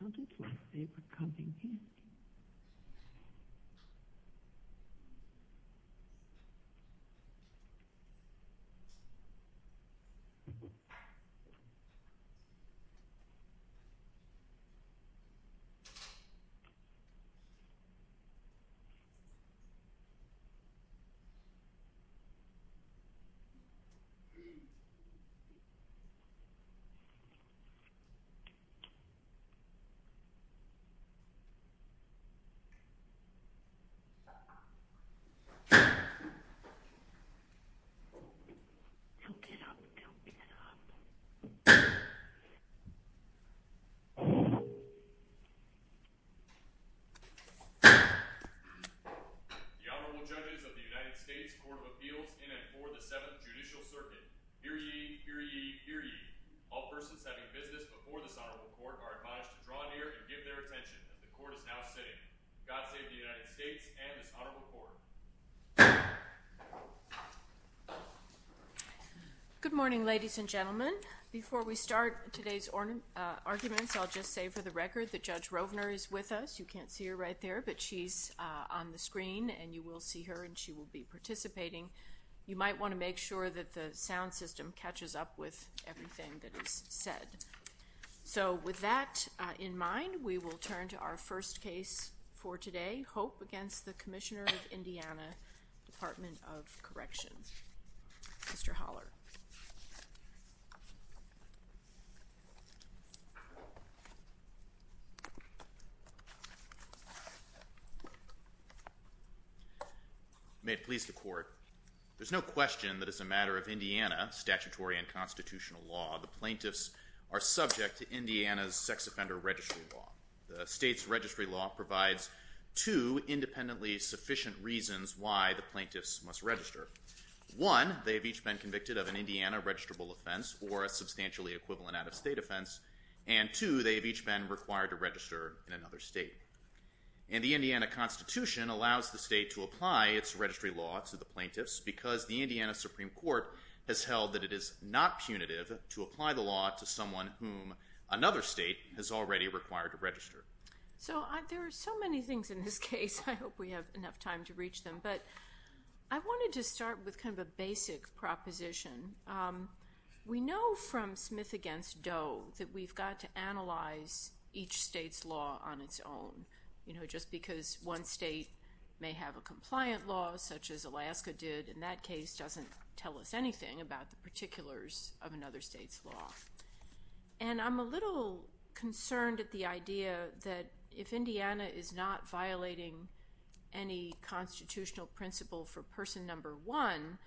It sounded like they were coming in. It sounded like they were coming in. It sounded like they were coming in. It sounded like they were coming in. Good morning, ladies and gentlemen. Before we start today's arguments, I'll just say for the record that Judge Rovner is with us. You can't see her right there, but she's on the screen, and you will see her, and she will be participating. You might want to make sure that the sound system catches up with everything that is said. So with that in mind, we will turn to our first case for today, Hope against the Commissioner of Indiana, Department of Corrections. Mr. Holler. May it please the Court. There's no question that as a matter of Indiana statutory and constitutional law, the plaintiffs are subject to Indiana's sex offender registry law. The state's registry law provides two independently sufficient reasons why the plaintiffs must register. One, they have each been convicted of an Indiana registrable offense or a substantially equivalent out-of-state offense, and two, they have each been required to register in another state. And the Indiana Constitution allows the state to apply its registry law to the plaintiffs because the Indiana Supreme Court has held that it is not punitive to apply the law to someone whom another state has already required to register. So there are so many things in this case. I hope we have enough time to reach them, but I wanted to start with kind of a basic proposition. We know from Smith against Doe that we've got to analyze each state's law on its own, you know, just because one state may have a compliant law, such as Alaska did, in that case doesn't tell us anything about the particulars of another state's law. And I'm a little concerned at the idea that if Indiana is not violating any constitutional principle for person number one,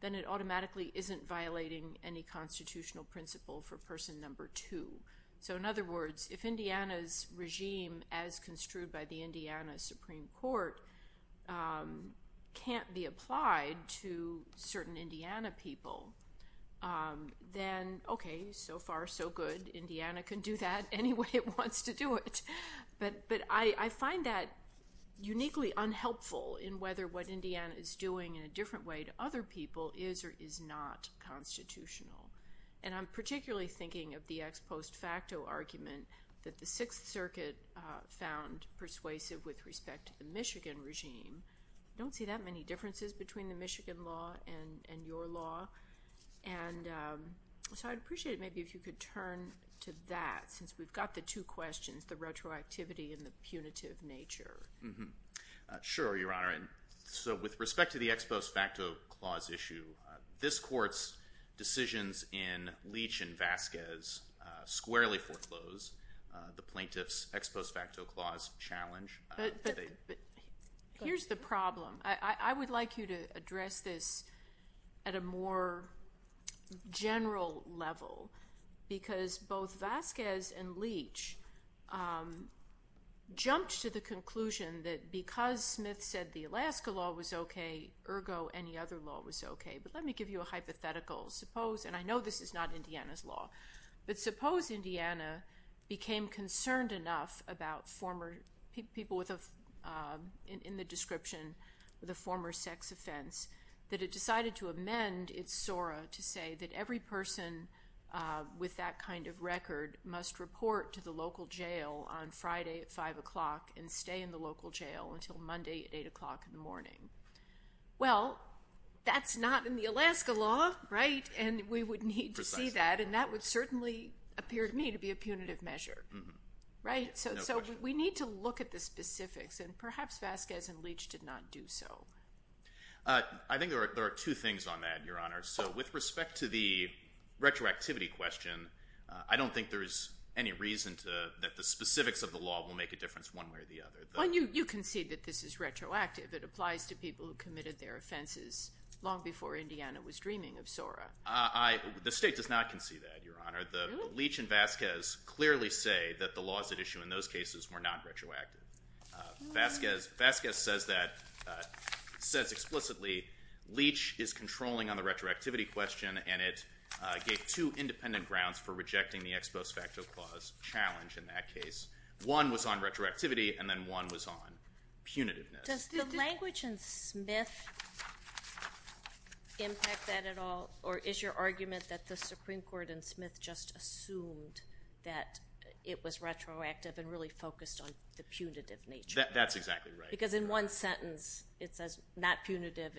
then it automatically isn't violating any constitutional principle for person number two. So in other words, if Indiana's regime, as construed by the Indiana Supreme Court, can't be applied to certain Indiana people, then okay, so far so good. Indiana can do that any way it wants to do it. But I find that uniquely unhelpful in whether what Indiana is doing in a different way to other people is or is not constitutional. And I'm particularly thinking of the ex post facto argument that the Sixth Circuit found persuasive with respect to the Michigan regime. I don't see that many differences between the Michigan law and your law. And so I'd appreciate it maybe if you could turn to that since we've got the two questions, the retroactivity and the punitive nature. Sure, Your Honor. All right. So with respect to the ex post facto clause issue, this Court's decisions in Leach and Vasquez squarely foreclose the plaintiff's ex post facto clause challenge. But here's the problem. I would like you to address this at a more general level because both Vasquez and Leach jumped to the conclusion that because Smith said the Alaska law was okay, ergo any other law was okay. But let me give you a hypothetical. And I know this is not Indiana's law. But suppose Indiana became concerned enough about people in the description of the former sex offense that it decided to amend its SORA to say that every person with that kind of record must report to the local jail on Friday at 5 o'clock and stay in the local jail until Monday at 8 o'clock in the morning. Well, that's not in the Alaska law, right? And we would need to see that. And that would certainly appear to me to be a punitive measure. So we need to look at the specifics. And perhaps Vasquez and Leach did not do so. I think there are two things on that, Your Honor. So with respect to the retroactivity question, I don't think there's any reason that the specifics of the law will make a difference one way or the other. Well, you concede that this is retroactive. It applies to people who committed their offenses long before Indiana was dreaming of SORA. The state does not concede that, Your Honor. Leach and Vasquez clearly say that the laws at issue in those cases were not retroactive. Vasquez says explicitly Leach is controlling on the retroactivity question, and it gave two independent grounds for rejecting the Ex Post Facto Clause challenge in that case. One was on retroactivity, and then one was on punitiveness. Does the language in Smith impact that at all, or is your argument that the Supreme Court in Smith just assumed that it was retroactive and really focused on the punitive nature? That's exactly right. Because in one sentence it says, not punitive,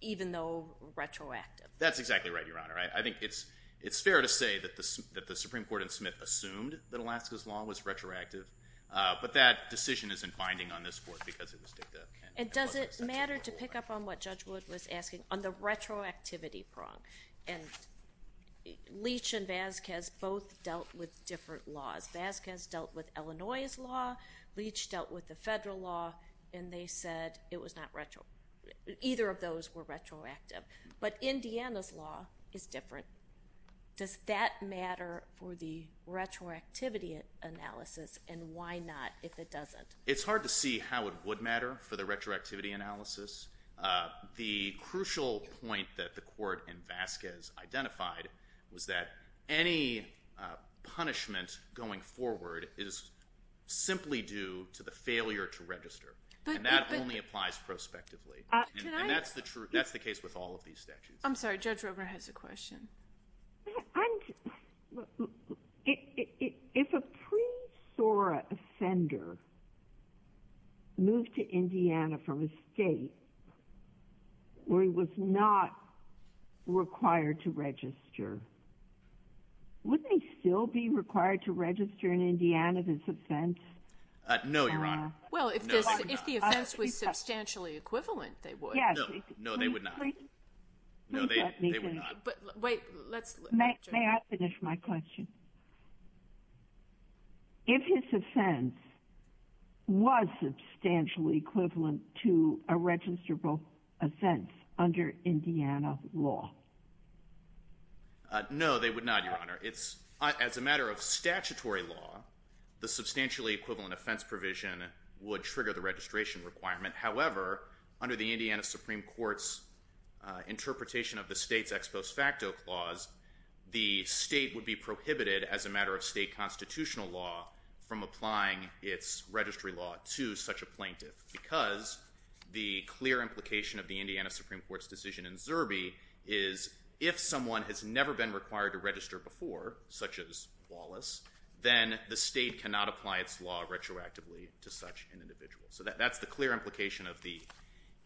even though retroactive. That's exactly right, Your Honor. I think it's fair to say that the Supreme Court in Smith assumed that Alaska's law was retroactive, but that decision isn't binding on this Court because it was dicta. And does it matter to pick up on what Judge Wood was asking on the retroactivity prong? And Leach and Vasquez both dealt with different laws. Vasquez dealt with Illinois' law, Leach dealt with the federal law, and they said it was not retroactive. Either of those were retroactive. But Indiana's law is different. Does that matter for the retroactivity analysis, and why not if it doesn't? It's hard to see how it would matter for the retroactivity analysis. The crucial point that the Court and Vasquez identified was that any punishment going forward is simply due to the failure to register. And that only applies prospectively. And that's the case with all of these statutes. I'm sorry. Judge Robert has a question. If a pre-SORA offender moved to Indiana from a state where he was not required to register, would they still be required to register in Indiana this offense? No, Your Honor. Well, if the offense was substantially equivalent, they would. No, they would not. Let me finish. Wait. May I finish my question? If his offense was substantially equivalent to a registrable offense under Indiana law? No, they would not, Your Honor. As a matter of statutory law, the substantially equivalent offense provision would trigger the registration requirement. However, under the Indiana Supreme Court's interpretation of the state's ex post facto clause, the state would be prohibited as a matter of state constitutional law from applying its registry law to such a plaintiff because the clear implication of the Indiana Supreme Court's decision in Zerbe is if someone has never been required to register before, such as Wallace, then the state cannot apply its law retroactively to such an individual. So that's the clear implication of the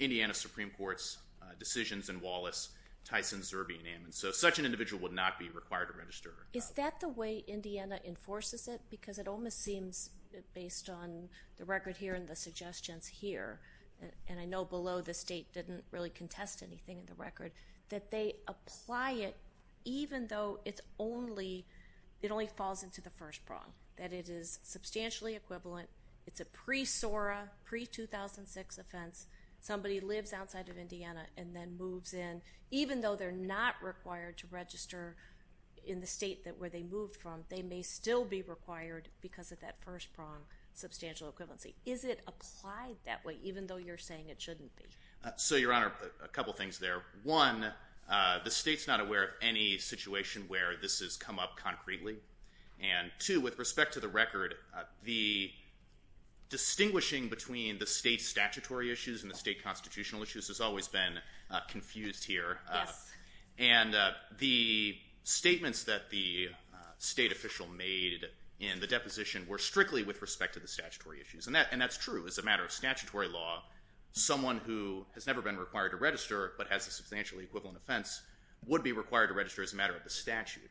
Indiana Supreme Court's decisions in Wallace, Tyson, Zerbe, and Ammons. So such an individual would not be required to register. Is that the way Indiana enforces it? Because it almost seems, based on the record here and the suggestions here, and I know below the state didn't really contest anything in the record, that they apply it even though it only falls into the first prong, that it is substantially equivalent. It's a pre-SORA, pre-2006 offense. Somebody lives outside of Indiana and then moves in. Even though they're not required to register in the state where they moved from, they may still be required because of that first prong, substantial equivalency. Is it applied that way even though you're saying it shouldn't be? So, Your Honor, a couple things there. One, the state's not aware of any situation where this has come up concretely. And two, with respect to the record, the distinguishing between the state's statutory issues and the state constitutional issues has always been confused here. Yes. And the statements that the state official made in the deposition were strictly with respect to the statutory issues. And that's true. As a matter of statutory law, someone who has never been required to register but has a substantially equivalent offense would be required to register as a matter of the statute.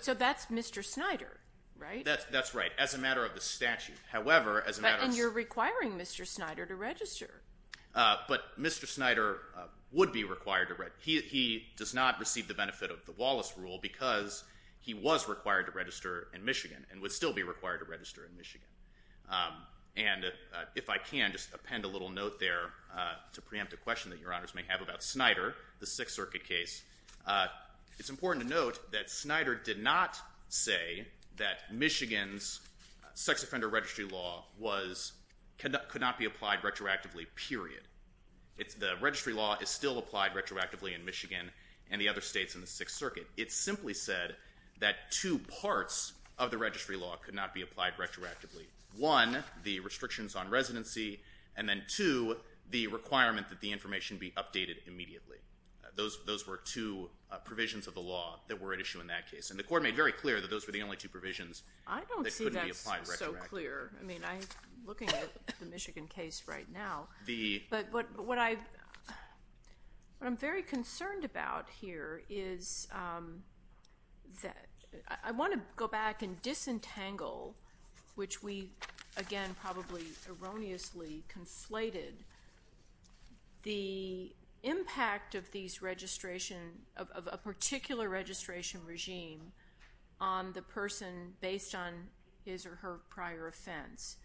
So that's Mr. Snyder, right? That's right, as a matter of the statute. And you're requiring Mr. Snyder to register. But Mr. Snyder would be required to register. He does not receive the benefit of the Wallace Rule because he was required to register in Michigan and would still be required to register in Michigan. And if I can, just append a little note there to preempt a question that Your Honors may have about Snyder, the Sixth Circuit case. It's important to note that Snyder did not say that Michigan's sex offender registry law could not be applied retroactively, period. The registry law is still applied retroactively in Michigan and the other states in the Sixth Circuit. It simply said that two parts of the registry law could not be applied retroactively. One, the restrictions on residency, and then two, the requirement that the information be updated immediately. Those were two provisions of the law that were at issue in that case. And the Court made very clear that those were the only two provisions that couldn't be applied retroactively. I don't see that so clear. I mean, I'm looking at the Michigan case right now. But what I'm very concerned about here is that I want to go back and disentangle, which we, again, probably erroneously conflated, the impact of a particular registration regime on the person based on his or her prior offense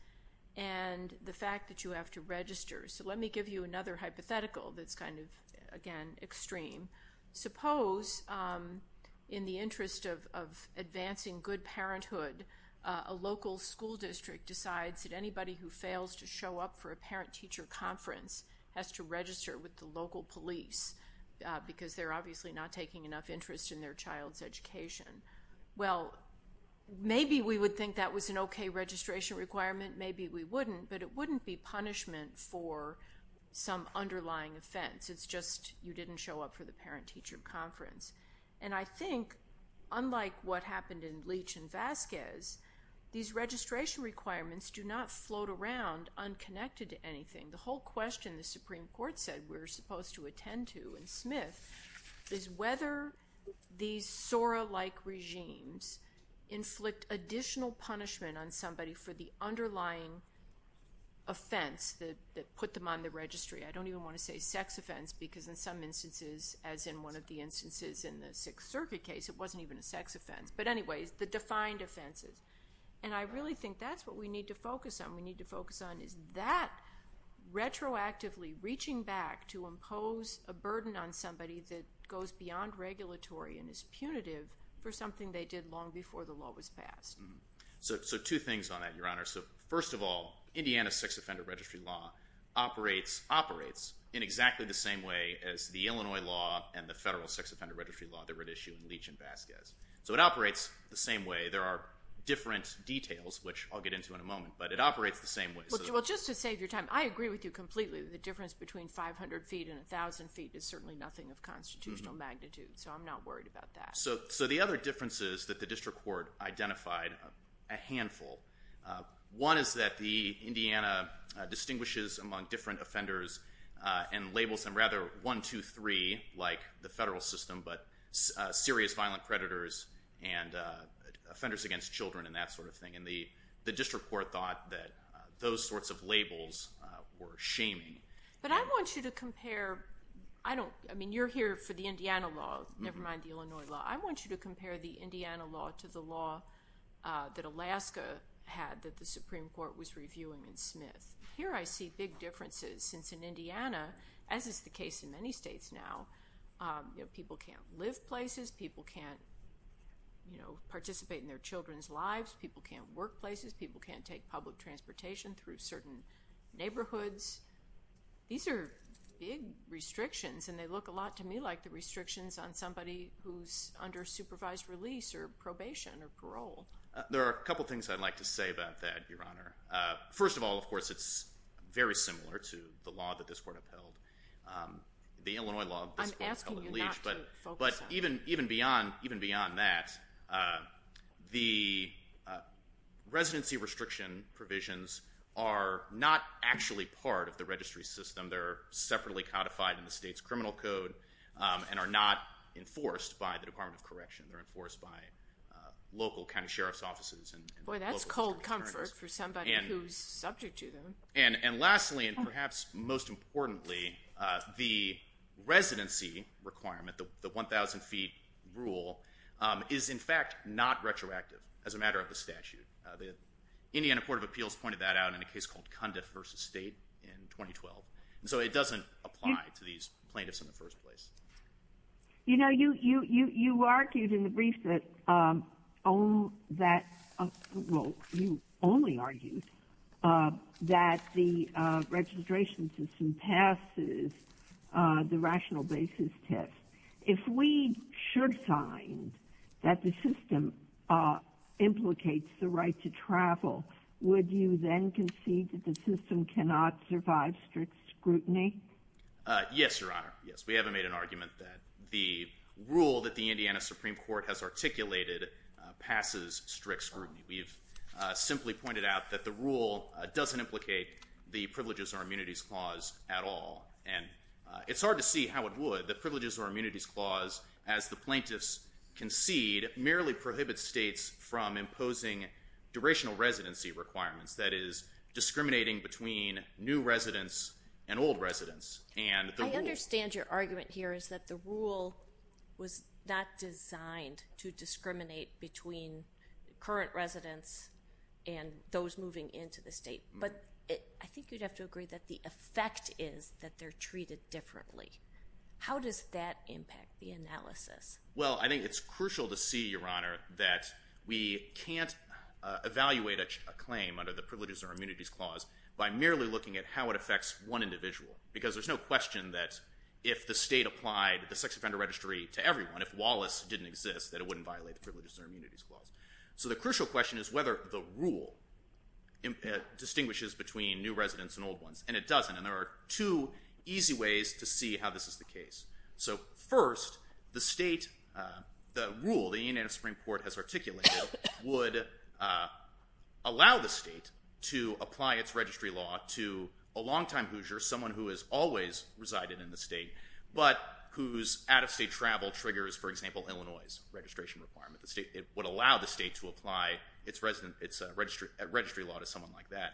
and the fact that you have to register. So let me give you another hypothetical that's kind of, again, extreme. Suppose, in the interest of advancing good parenthood, a local school district decides that anybody who fails to show up for a parent-teacher conference has to register with the local police because they're obviously not taking enough interest in their child's education. Well, maybe we would think that was an okay registration requirement. Maybe we wouldn't. But it wouldn't be punishment for some underlying offense. It's just you didn't show up for the parent-teacher conference. And I think, unlike what happened in Leach and Vasquez, these registration requirements do not float around unconnected to anything. The whole question the Supreme Court said we're supposed to attend to in Smith is whether these SORA-like regimes inflict additional punishment on somebody for the underlying offense that put them on the registry. I don't even want to say sex offense because, in some instances, as in one of the instances in the Sixth Circuit case, it wasn't even a sex offense. But anyways, the defined offenses. And I really think that's what we need to focus on. We need to focus on is that retroactively reaching back to impose a burden on somebody that goes beyond regulatory and is punitive for something they did long before the law was passed. So two things on that, Your Honor. First of all, Indiana's sex offender registry law operates in exactly the same way as the Illinois law So it operates the same way. There are different details, which I'll get into in a moment, but it operates the same way. Well, just to save your time, I agree with you completely that the difference between 500 feet and 1,000 feet is certainly nothing of constitutional magnitude, so I'm not worried about that. So the other difference is that the district court identified a handful. One is that Indiana distinguishes among different offenders and labels them rather 1, 2, 3, like the federal system, but serious violent predators and offenders against children and that sort of thing. And the district court thought that those sorts of labels were shaming. But I want you to compare. I mean, you're here for the Indiana law, never mind the Illinois law. I want you to compare the Indiana law to the law that Alaska had that the Supreme Court was reviewing in Smith. Here I see big differences, since in Indiana, as is the case in many states now, people can't live places, people can't participate in their children's lives, people can't work places, people can't take public transportation through certain neighborhoods. These are big restrictions, and they look a lot to me like the restrictions on somebody who's under supervised release or probation or parole. There are a couple things I'd like to say about that, Your Honor. First of all, of course, it's very similar to the law that this court upheld, the Illinois law that this court upheld in Leach. I'm asking you not to focus on that. But even beyond that, the residency restriction provisions are not actually part of the registry system. They're separately codified in the state's criminal code and are not enforced by the Department of Correction. They're enforced by local county sheriff's offices and local district attorneys. Boy, that's cold comfort for somebody who's subject to them. And lastly, and perhaps most importantly, the residency requirement, the 1,000-feet rule, is in fact not retroactive as a matter of the statute. Indiana Court of Appeals pointed that out in a case called Cundiff v. State in 2012. So it doesn't apply to these plaintiffs in the first place. You know, you argued in the brief that, well, you only argued that the registration system passes the rational basis test. If we should find that the system implicates the right to travel, would you then concede that the system cannot survive strict scrutiny? Yes, Your Honor, yes. We haven't made an argument that the rule that the Indiana Supreme Court has articulated passes strict scrutiny. We've simply pointed out that the rule doesn't implicate the Privileges or Immunities Clause at all. And it's hard to see how it would. The Privileges or Immunities Clause, as the plaintiffs concede, merely prohibits states from imposing durational residency requirements, that is, discriminating between new residents and old residents. I understand your argument here is that the rule was not designed to discriminate between current residents and those moving into the state. But I think you'd have to agree that the effect is that they're treated differently. How does that impact the analysis? Well, I think it's crucial to see, Your Honor, that we can't evaluate a claim under the Privileges or Immunities Clause by merely looking at how it affects one individual. Because there's no question that if the state applied the sex offender registry to everyone, if Wallace didn't exist, that it wouldn't violate the Privileges or Immunities Clause. So the crucial question is whether the rule distinguishes between new residents and old ones. And it doesn't. And there are two easy ways to see how this is the case. So first, the state, the rule the Indiana Supreme Court has articulated would allow the state to apply its registry law to a longtime Hoosier, someone who has always resided in the state, but whose out-of-state travel triggers, for example, Illinois' registration requirement. It would allow the state to apply its registry law to someone like that.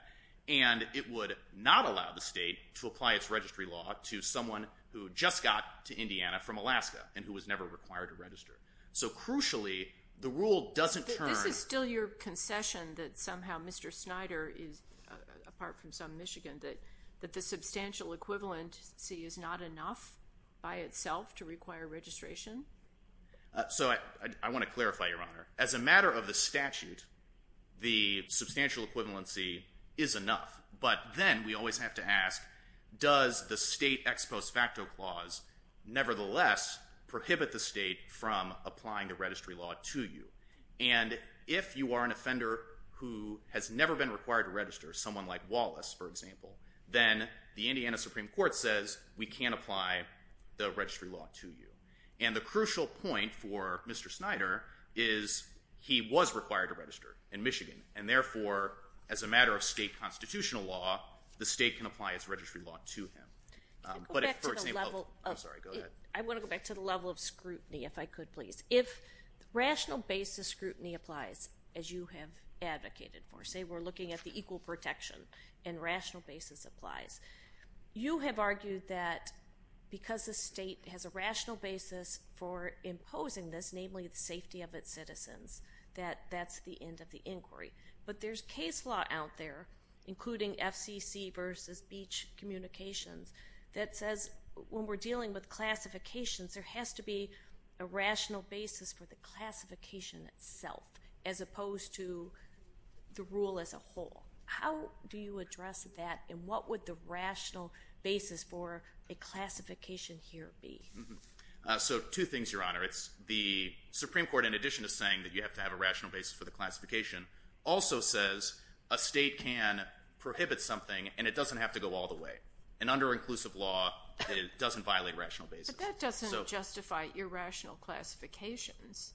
And it would not allow the state to apply its registry law to someone who just got to Indiana from Alaska and who was never required to register. So crucially, the rule doesn't turn. This is still your concession that somehow Mr. Snyder is, apart from some Michigan, that the substantial equivalency is not enough by itself to require registration? So I want to clarify, Your Honor. As a matter of the statute, the substantial equivalency is enough. But then we always have to ask, does the state ex post facto clause nevertheless prohibit the state from applying the registry law to you? And if you are an offender who has never been required to register, someone like Wallace, for example, then the Indiana Supreme Court says we can't apply the registry law to you. And the crucial point for Mr. Snyder is he was required to register in Michigan, and therefore, as a matter of state constitutional law, the state can apply its registry law to him. I want to go back to the level of scrutiny, if I could, please. If rational basis scrutiny applies, as you have advocated for, when you say we're looking at the equal protection and rational basis applies, you have argued that because the state has a rational basis for imposing this, namely the safety of its citizens, that that's the end of the inquiry. But there's case law out there, including FCC versus Beach Communications, that says when we're dealing with classifications, there has to be a rational basis for the classification itself, as opposed to the rule as a whole. How do you address that, and what would the rational basis for a classification here be? So two things, Your Honor. The Supreme Court, in addition to saying that you have to have a rational basis for the classification, also says a state can prohibit something, and it doesn't have to go all the way. And under inclusive law, it doesn't violate rational basis. But that doesn't justify irrational classifications.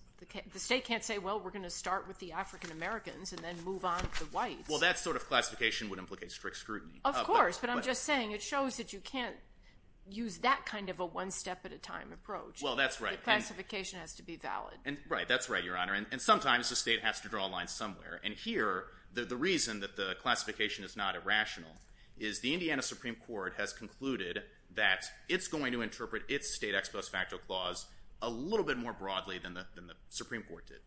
The state can't say, well, we're going to start with the African Americans and then move on to the whites. Well, that sort of classification would implicate strict scrutiny. Of course, but I'm just saying it shows that you can't use that kind of a one-step-at-a-time approach. Well, that's right. The classification has to be valid. Right, that's right, Your Honor. And sometimes the state has to draw a line somewhere. And here, the reason that the classification is not irrational is the Indiana Supreme Court has concluded that it's going to interpret its state ex post facto clause a little bit more broadly than the Supreme Court did.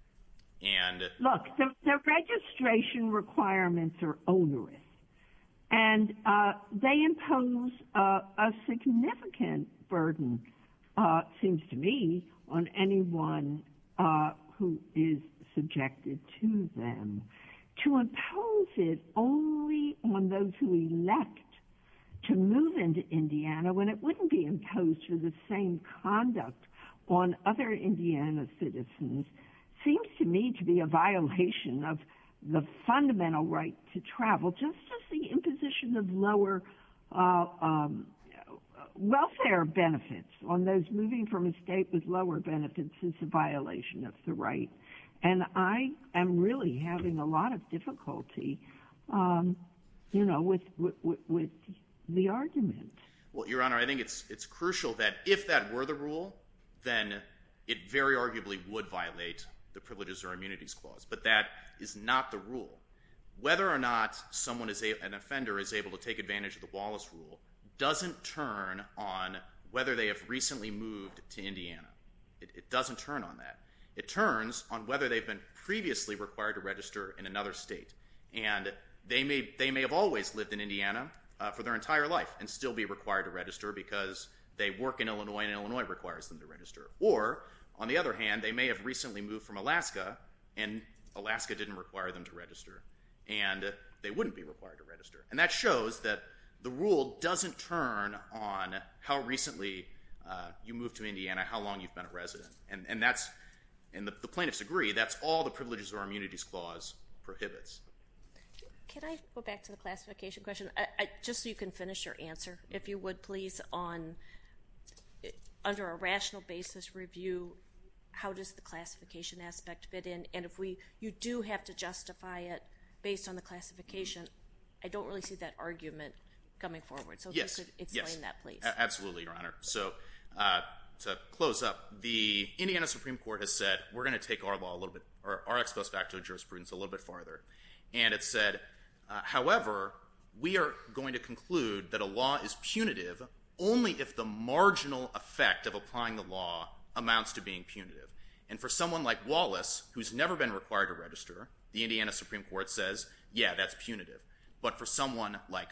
Look, the registration requirements are onerous. And they impose a significant burden, it seems to me, on anyone who is subjected to them. To impose it only on those who elect to move into Indiana when it wouldn't be imposed for the same conduct on other Indiana citizens seems to me to be a violation of the fundamental right to travel, just as the imposition of lower welfare benefits on those moving from a state with lower benefits is a violation of the right. And I am really having a lot of difficulty with the argument. Well, Your Honor, I think it's crucial that if that were the rule, then it very arguably would violate the Privileges or Immunities Clause. But that is not the rule. Whether or not an offender is able to take advantage of the Wallace Rule doesn't turn on whether they have recently moved to Indiana. It doesn't turn on that. It turns on whether they've been previously required to register in another state. And they may have always lived in Indiana for their entire life and still be required to register because they work in Illinois and Illinois requires them to register. Or, on the other hand, they may have recently moved from Alaska and Alaska didn't require them to register. And they wouldn't be required to register. And that shows that the rule doesn't turn on how recently you moved to Indiana, how long you've been a resident. And the plaintiffs agree that's all the Privileges or Immunities Clause prohibits. Can I go back to the classification question? Just so you can finish your answer, if you would, please, under a rational basis review, how does the classification aspect fit in? And if you do have to justify it based on the classification, I don't really see that argument coming forward. So if you could explain that, please. Yes, absolutely, Your Honor. So to close up, the Indiana Supreme Court has said, we're going to take our law a little bit, or our ex post facto jurisprudence, a little bit farther. And it said, however, we are going to conclude that a law is punitive only if the marginal effect of applying the law amounts to being punitive. And for someone like Wallace, who's never been required to register, the Indiana Supreme Court says, yeah, that's punitive. But for someone like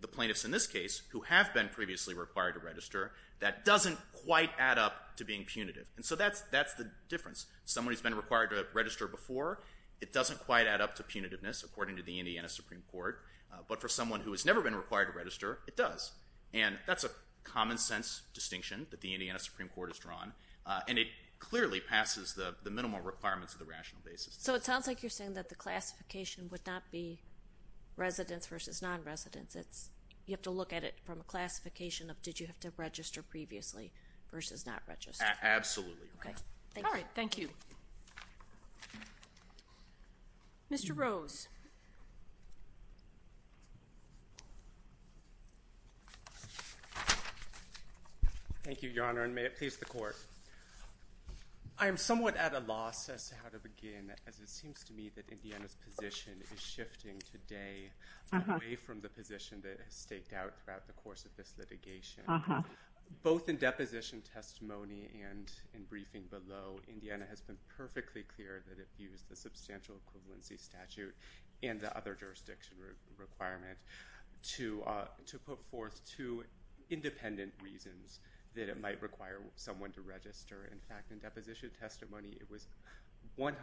the plaintiffs in this case, who have been previously required to register, that doesn't quite add up to being punitive. And so that's the difference. Someone who's been required to register before, it doesn't quite add up to punitiveness, according to the Indiana Supreme Court. But for someone who has never been required to register, it does. And that's a common sense distinction that the Indiana Supreme Court has drawn. And it clearly passes the minimal requirements of the rational basis. So it sounds like you're saying that the classification would not be residents versus non-residents. You have to look at it from a classification of did you have to register previously versus not register. Absolutely. All right. Thank you. Mr. Rose. Thank you, Your Honor, and may it please the Court. I am somewhat at a loss as to how to begin, as it seems to me that Indiana's position is shifting today away from the position that has staked out throughout the course of this litigation. Both in deposition testimony and in briefing below, Indiana has been perfectly clear that it views the substantial equivalency statute and the other jurisdiction requirement to put forth two independent reasons that it might require someone to register. In fact, in deposition testimony, it was 100%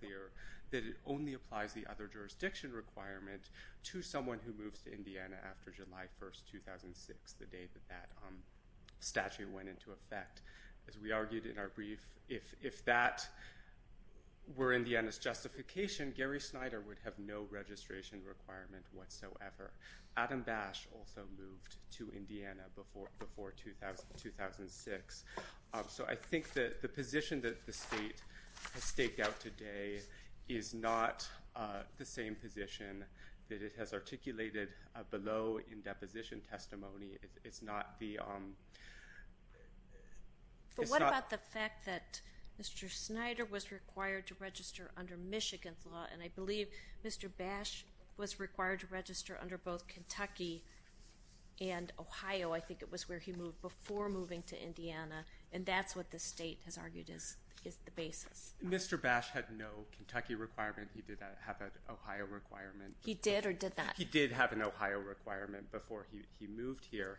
clear that it only applies the other jurisdiction requirement to someone who moves to Indiana after July 1, 2006, the day that that statute went into effect. As we argued in our brief, if that were Indiana's justification, Gary Snyder would have no registration requirement whatsoever. Adam Bash also moved to Indiana before 2006. So I think that the position that the state has staked out today is not the same position that it has articulated below in deposition testimony. It's not the – it's not – And that's what the state has argued is the basis. Mr. Bash had no Kentucky requirement. He did have an Ohio requirement. He did or did not? He did have an Ohio requirement before he moved here.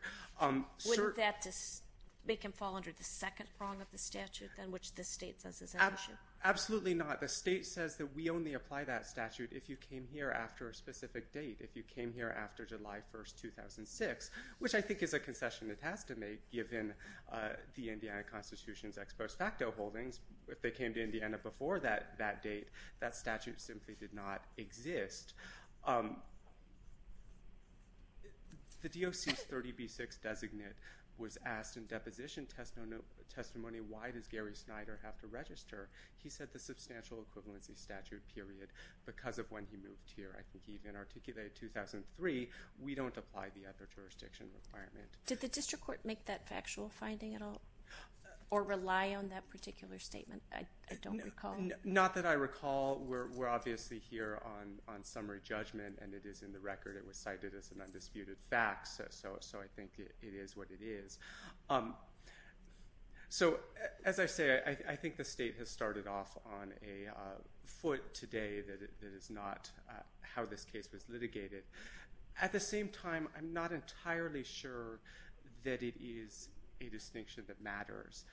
Wouldn't that make him fall under the second prong of the statute, which the state says is an issue? Absolutely not. The state says that we only apply that statute if you came here after a specific date, if you came here after July 1, 2006, which I think is a concession it has to make given the Indiana Constitution's ex post facto holdings. If they came to Indiana before that date, that statute simply did not exist. The DOC's 30B-6 designate was asked in deposition testimony, why does Gary Snyder have to register? He said the substantial equivalency statute period because of when he moved here. I think he even articulated 2003, we don't apply the other jurisdiction requirement. Did the district court make that factual finding at all or rely on that particular statement? I don't recall. Not that I recall. We're obviously here on summary judgment, and it is in the record. It was cited as an undisputed fact, so I think it is what it is. As I say, I think the state has started off on a foot today that is not how this case was litigated. At the same time, I'm not entirely sure that it is a distinction that matters.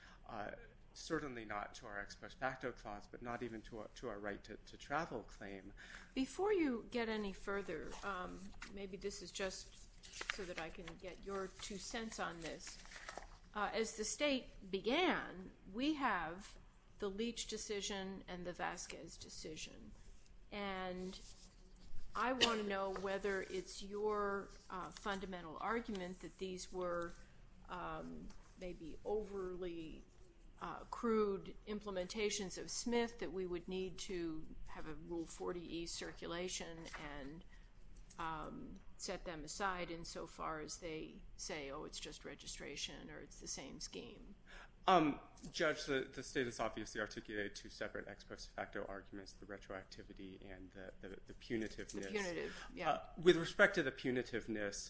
Certainly not to our ex post facto clause, but not even to our right to travel claim. Before you get any further, maybe this is just so that I can get your two cents on this. As the state began, we have the Leach decision and the Vasquez decision, and I want to know whether it's your fundamental argument that these were maybe overly crude implementations of Smith, that we would need to have a Rule 40E circulation and set them aside insofar as they say, oh, it's just registration or it's the same scheme. Judge, the state has obviously articulated two separate ex post facto arguments, the retroactivity and the punitiveness. The punitive, yeah. With respect to the punitiveness,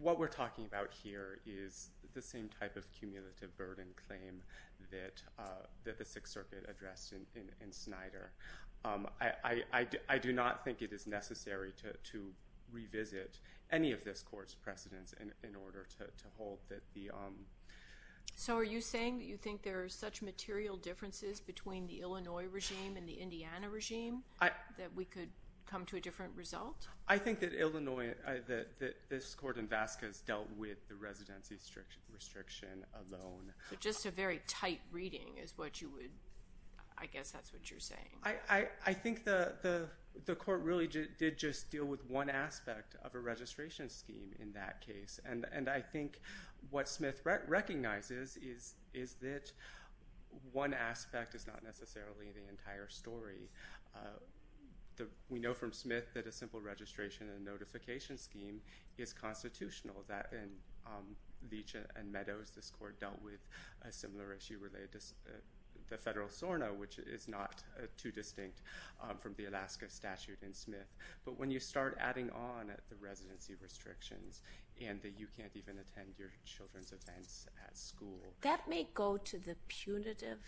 what we're talking about here is the same type of cumulative burden claim that the Sixth Circuit addressed in Snyder. I do not think it is necessary to revisit any of this court's precedents in order to hold that the- So are you saying that you think there are such material differences between the Illinois regime and the Indiana regime that we could come to a different result? I think that Illinois, that this court in Vasquez dealt with the residency restriction alone. So just a very tight reading is what you would-I guess that's what you're saying. I think the court really did just deal with one aspect of a registration scheme in that case, and I think what Smith recognizes is that one aspect is not necessarily the entire story. We know from Smith that a simple registration and notification scheme is constitutional. That in Leach and Meadows, this court dealt with a similar issue related to the federal SORNA, which is not too distinct from the Alaska statute in Smith. But when you start adding on the residency restrictions and that you can't even attend your children's events at school- That may go to the punitive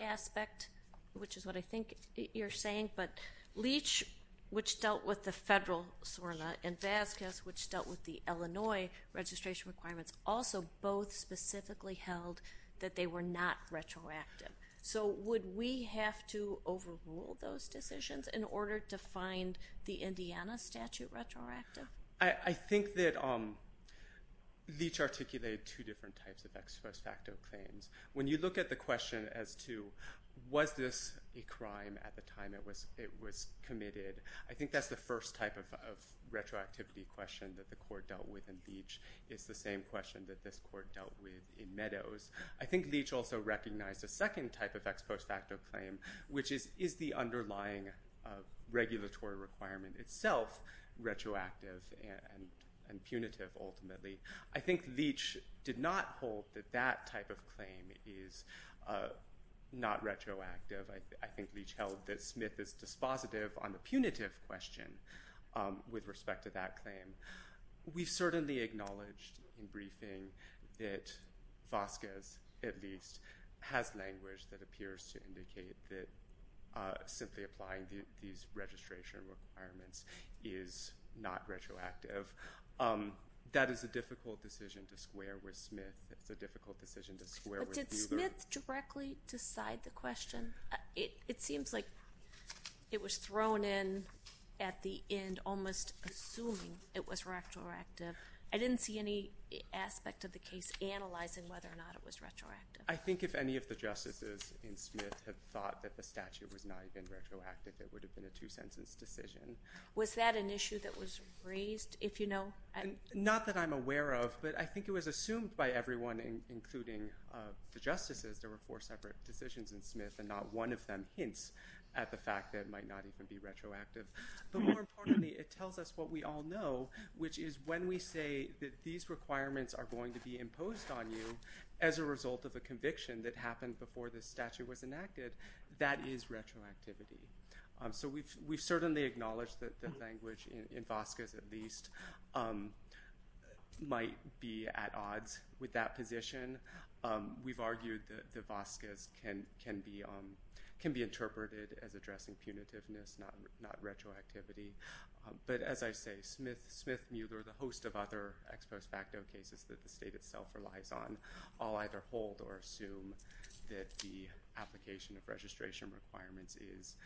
aspect, which is what I think you're saying. But Leach, which dealt with the federal SORNA, and Vasquez, which dealt with the Illinois registration requirements, also both specifically held that they were not retroactive. So would we have to overrule those decisions in order to find the Indiana statute retroactive? I think that Leach articulated two different types of ex post facto claims. When you look at the question as to was this a crime at the time it was committed, I think that's the first type of retroactivity question that the court dealt with in Leach. It's the same question that this court dealt with in Meadows. I think Leach also recognized a second type of ex post facto claim, which is, is the underlying regulatory requirement itself retroactive and punitive ultimately? I think Leach did not hold that that type of claim is not retroactive. I think Leach held that Smith is dispositive on the punitive question with respect to that claim. We've certainly acknowledged in briefing that Vasquez, at least, has language that appears to indicate that simply applying these registration requirements is not retroactive. That is a difficult decision to square with Smith. It's a difficult decision to square with Buehler. But did Smith directly decide the question? It seems like it was thrown in at the end almost assuming it was retroactive. I didn't see any aspect of the case analyzing whether or not it was retroactive. I think if any of the justices in Smith had thought that the statute was not even retroactive, it would have been a two-sentence decision. Was that an issue that was raised, if you know? Not that I'm aware of, but I think it was assumed by everyone, including the justices. There were four separate decisions in Smith, and not one of them hints at the fact that it might not even be retroactive. But more importantly, it tells us what we all know, which is when we say that these requirements are going to be imposed on you as a result of a conviction that happened before this statute was enacted, that is retroactivity. So we've certainly acknowledged that the language in Vasquez, at least, might be at odds with that position. We've argued that Vasquez can be interpreted as addressing punitiveness, not retroactivity. But as I say, Smith, Mueller, the host of other ex post facto cases that the state itself relies on, I'll either hold or assume that the application of registration requirements is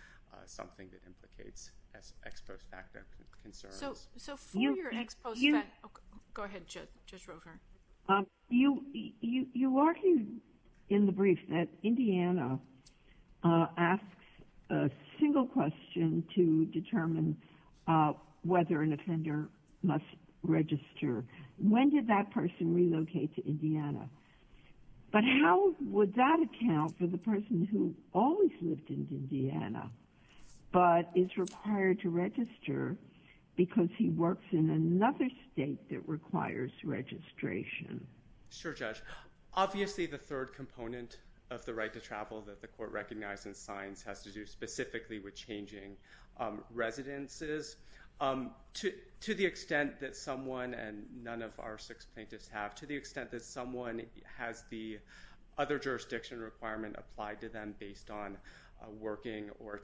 something that implicates ex post facto concerns. So for your ex post facto—go ahead, Judge Rover. You argue in the brief that Indiana asks a single question to determine whether an offender must register. When did that person relocate to Indiana? But how would that account for the person who always lived in Indiana, but is required to register because he works in another state that requires registration? Sure, Judge. Obviously, the third component of the right to travel that the Court recognized in signs has to do specifically with changing residences. To the extent that someone—and none of our six plaintiffs have—to the extent that someone has the other jurisdiction requirement applied to them based on working or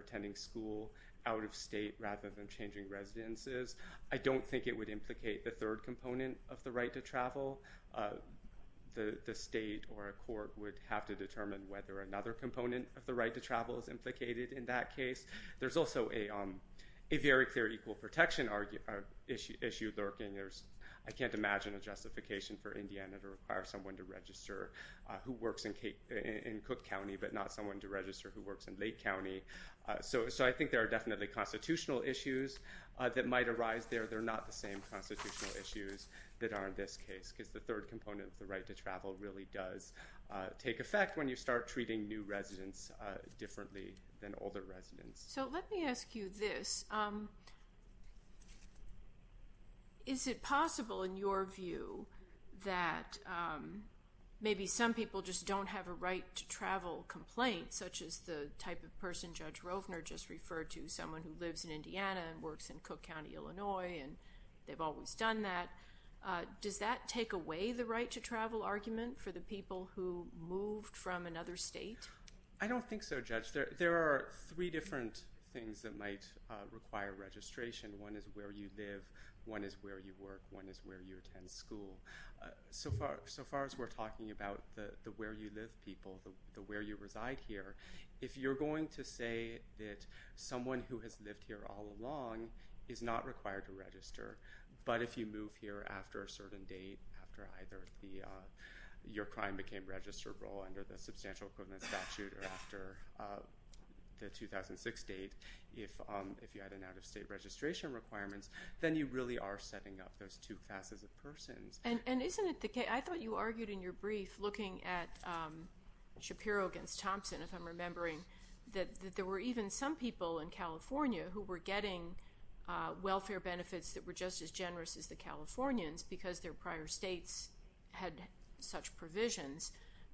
attending school out of state rather than changing residences, I don't think it would implicate the third component of the right to travel. The state or a court would have to determine whether another component of the right to travel is implicated in that case. There's also a very clear equal protection issue lurking. I can't imagine a justification for Indiana to require someone to register who works in Cook County but not someone to register who works in Lake County. So I think there are definitely constitutional issues that might arise there. They're not the same constitutional issues that are in this case because the third component of the right to travel really does take effect when you start treating new residents differently than older residents. So let me ask you this. Is it possible, in your view, that maybe some people just don't have a right to travel complaint, such as the type of person Judge Rovner just referred to, someone who lives in Indiana and works in Cook County, Illinois, and they've always done that. Does that take away the right to travel argument for the people who moved from another state? I don't think so, Judge. There are three different things that might require registration. One is where you live. One is where you work. One is where you attend school. So far as we're talking about the where you live people, the where you reside here, if you're going to say that someone who has lived here all along is not required to register but if you move here after a certain date, after either your crime became registrable under the Substantial Equivalent Statute or after the 2006 date, if you had an out-of-state registration requirement, then you really are setting up those two classes of persons. And isn't it the case, I thought you argued in your brief looking at Shapiro against Thompson, if I'm remembering, that there were even some people in California who were getting welfare benefits that were just as generous as the Californians because their prior states had such provisions.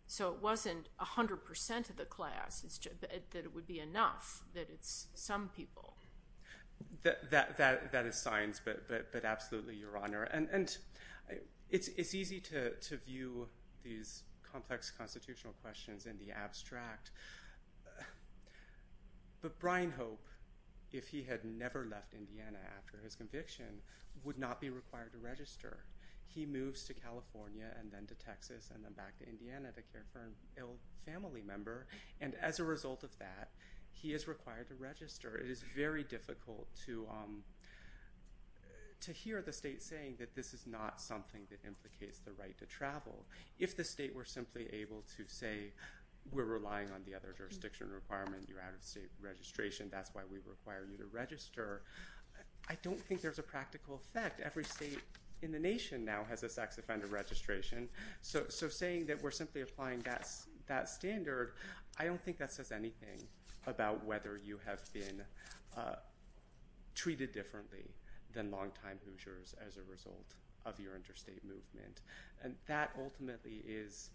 So it wasn't 100% of the class, that it would be enough, that it's some people. That is science, but absolutely, Your Honor. And it's easy to view these complex constitutional questions in the abstract. But Brian Hope, if he had never left Indiana after his conviction, would not be required to register. He moves to California and then to Texas and then back to Indiana to care for an ill family member. And as a result of that, he is required to register. It is very difficult to hear the state saying that this is not something that implicates the right to travel. If the state were simply able to say, we're relying on the other jurisdiction requirement, you're out-of-state registration, that's why we require you to register, I don't think there's a practical effect. Every state in the nation now has a sex offender registration. So saying that we're simply applying that standard, I don't think that says anything about whether you have been treated differently than long-time Hoosiers as a result of your interstate movement. And that ultimately is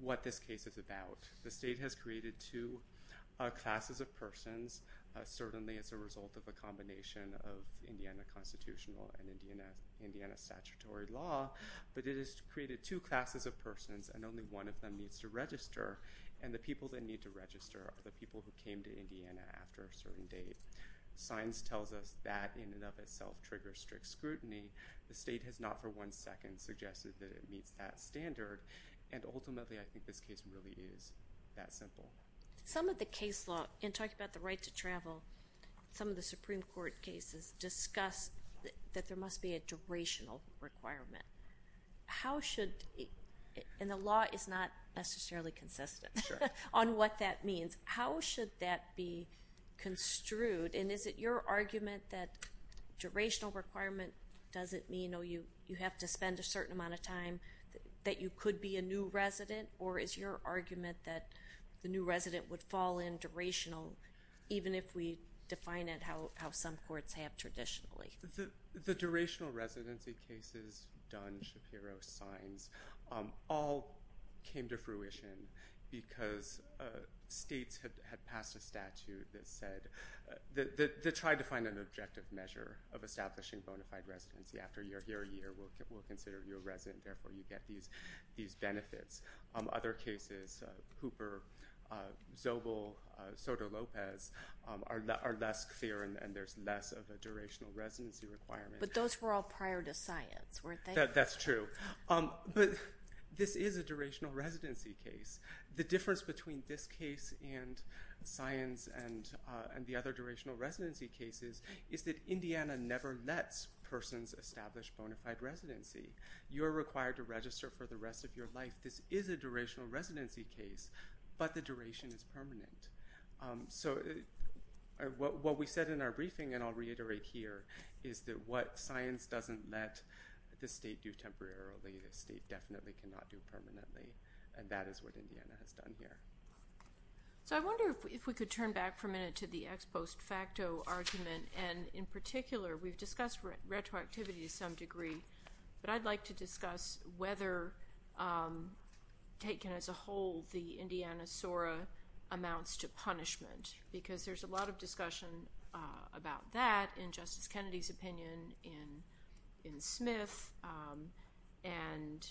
what this case is about. The state has created two classes of persons. Certainly, it's a result of a combination of Indiana constitutional and Indiana statutory law. But it has created two classes of persons, and only one of them needs to register. And the people that need to register are the people who came to Indiana after a certain date. Science tells us that in and of itself triggers strict scrutiny. The state has not for one second suggested that it meets that standard. And ultimately, I think this case really is that simple. Some of the case law, in talking about the right to travel, some of the Supreme Court cases discuss that there must be a durational requirement. How should, and the law is not necessarily consistent on what that means. How should that be construed? And is it your argument that durational requirement doesn't mean you have to spend a certain amount of time that you could be a new resident? Or is your argument that the new resident would fall in durational, even if we define it how some courts have traditionally? The durational residency cases, Dunn, Shapiro, Sines, all came to fruition because states had passed a statute that said, that tried to find an objective measure of establishing bona fide residency. After you're here a year, we'll consider you a resident. And therefore, you get these benefits. Other cases, Hooper, Zobel, Soto-Lopez, are less clear, and there's less of a durational residency requirement. But those were all prior to science, weren't they? That's true. But this is a durational residency case. The difference between this case and Sines and the other durational residency cases is that Indiana never lets persons establish bona fide residency. You're required to register for the rest of your life. This is a durational residency case, but the duration is permanent. So what we said in our briefing, and I'll reiterate here, is that what Sines doesn't let the state do temporarily, the state definitely cannot do permanently. And that is what Indiana has done here. So I wonder if we could turn back for a minute to the ex post facto argument. And in particular, we've discussed retroactivity to some degree, but I'd like to discuss whether, taken as a whole, the Indiana SORA amounts to punishment, because there's a lot of discussion about that in Justice Kennedy's opinion, in Smith, and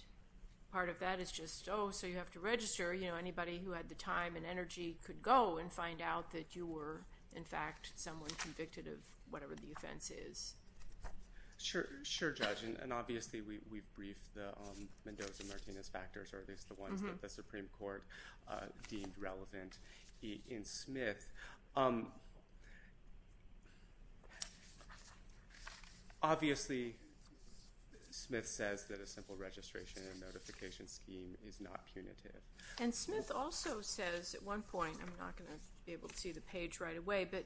part of that is just, oh, so you have to register. Anybody who had the time and energy could go and find out that you were, in fact, someone convicted of whatever the offense is. Sure, Judge, and obviously we've briefed the Mendoza-Martinez factors, or at least the ones that the Supreme Court deemed relevant in Smith. Obviously Smith says that a simple registration and notification scheme is not punitive. And Smith also says at one point, I'm not going to be able to see the page right away, but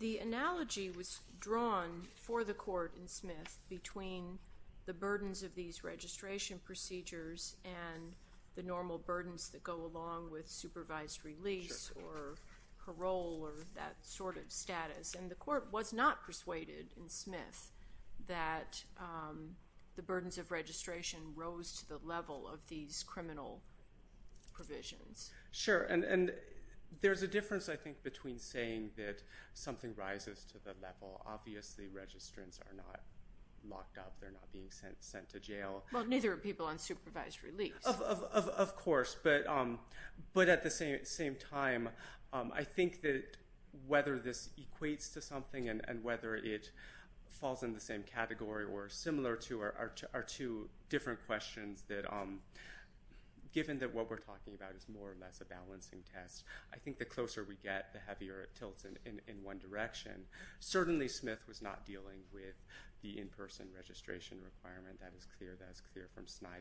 the analogy was drawn for the court in Smith between the burdens of these registration procedures and the normal burdens that go along with supervised release or parole or that sort of status. And the court was not persuaded in Smith that the burdens of registration rose to the level of these criminal provisions. Sure, and there's a difference, I think, between saying that something rises to the level, obviously registrants are not locked up, they're not being sent to jail. Well, neither are people on supervised release. Of course, but at the same time, I think that whether this equates to something and whether it falls in the same category or similar to are two different questions that given that what we're talking about is more or less a balancing test, I think the closer we get, the heavier it tilts in one direction. Certainly Smith was not dealing with the in-person registration requirement. That is clear from Snyder.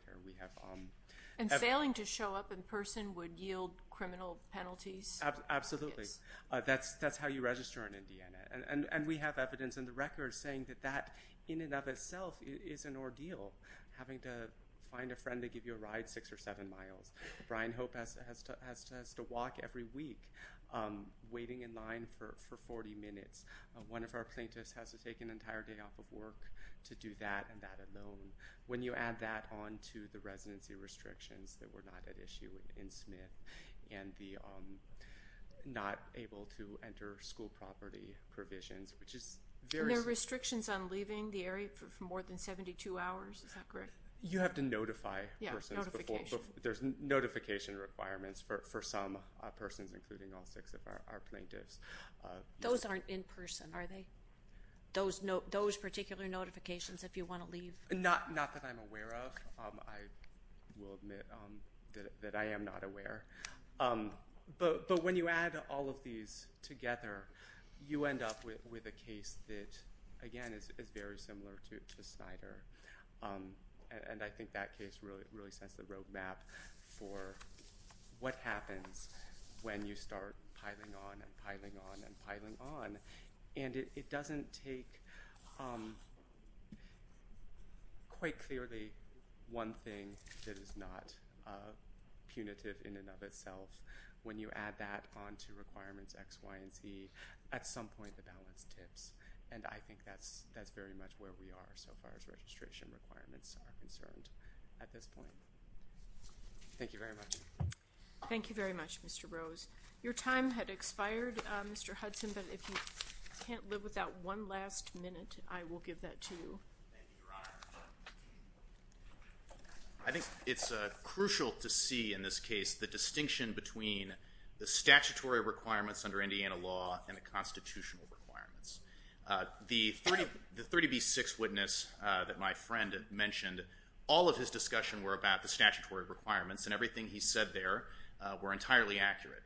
And failing to show up in person would yield criminal penalties? Absolutely. That's how you register in Indiana. And we have evidence in the record saying that that in and of itself is an ordeal, having to find a friend to give you a ride six or seven miles. Brian Hope has to walk every week waiting in line for 40 minutes. One of our plaintiffs has to take an entire day off of work to do that and that alone. When you add that on to the residency restrictions that were not at issue in Smith and the not able to enter school property provisions, which is very— You have to notify persons. There's notification requirements for some persons, including all six of our plaintiffs. Those aren't in person, are they? Those particular notifications if you want to leave? Not that I'm aware of. I will admit that I am not aware. But when you add all of these together, you end up with a case that, again, is very similar to Snyder. And I think that case really sets the roadmap for what happens when you start piling on and piling on and piling on. And it doesn't take quite clearly one thing that is not punitive in and of itself. When you add that on to requirements X, Y, and Z, at some point the balance tips. And I think that's very much where we are so far as registration requirements are concerned at this point. Thank you very much. Thank you very much, Mr. Rose. Your time had expired, Mr. Hudson, but if you can't live without one last minute, I will give that to you. Thank you, Your Honor. I think it's crucial to see in this case the distinction between the statutory requirements under Indiana law and the constitutional requirements. The 30B6 witness that my friend mentioned, all of his discussion were about the statutory requirements, and everything he said there were entirely accurate.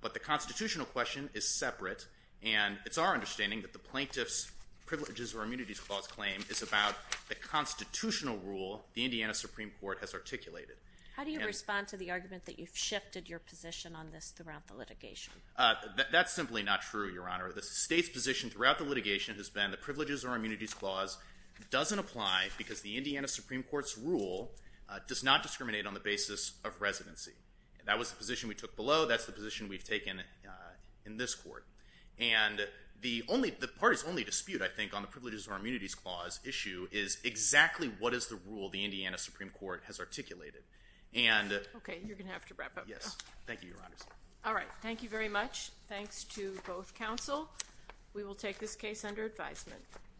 But the constitutional question is separate, and it's our understanding that the plaintiff's privileges or immunities clause claim is about the constitutional rule the Indiana Supreme Court has articulated. How do you respond to the argument that you've shifted your position on this throughout the litigation? That's simply not true, Your Honor. The state's position throughout the litigation has been the privileges or immunities clause doesn't apply because the Indiana Supreme Court's rule does not discriminate on the basis of residency. That was the position we took below. That's the position we've taken in this court. And the party's only dispute, I think, on the privileges or immunities clause issue is exactly what is the rule the Indiana Supreme Court has articulated. Okay, you're going to have to wrap up. Yes, thank you, Your Honor. All right, thank you very much. Thanks to both counsel. We will take this case under advisement.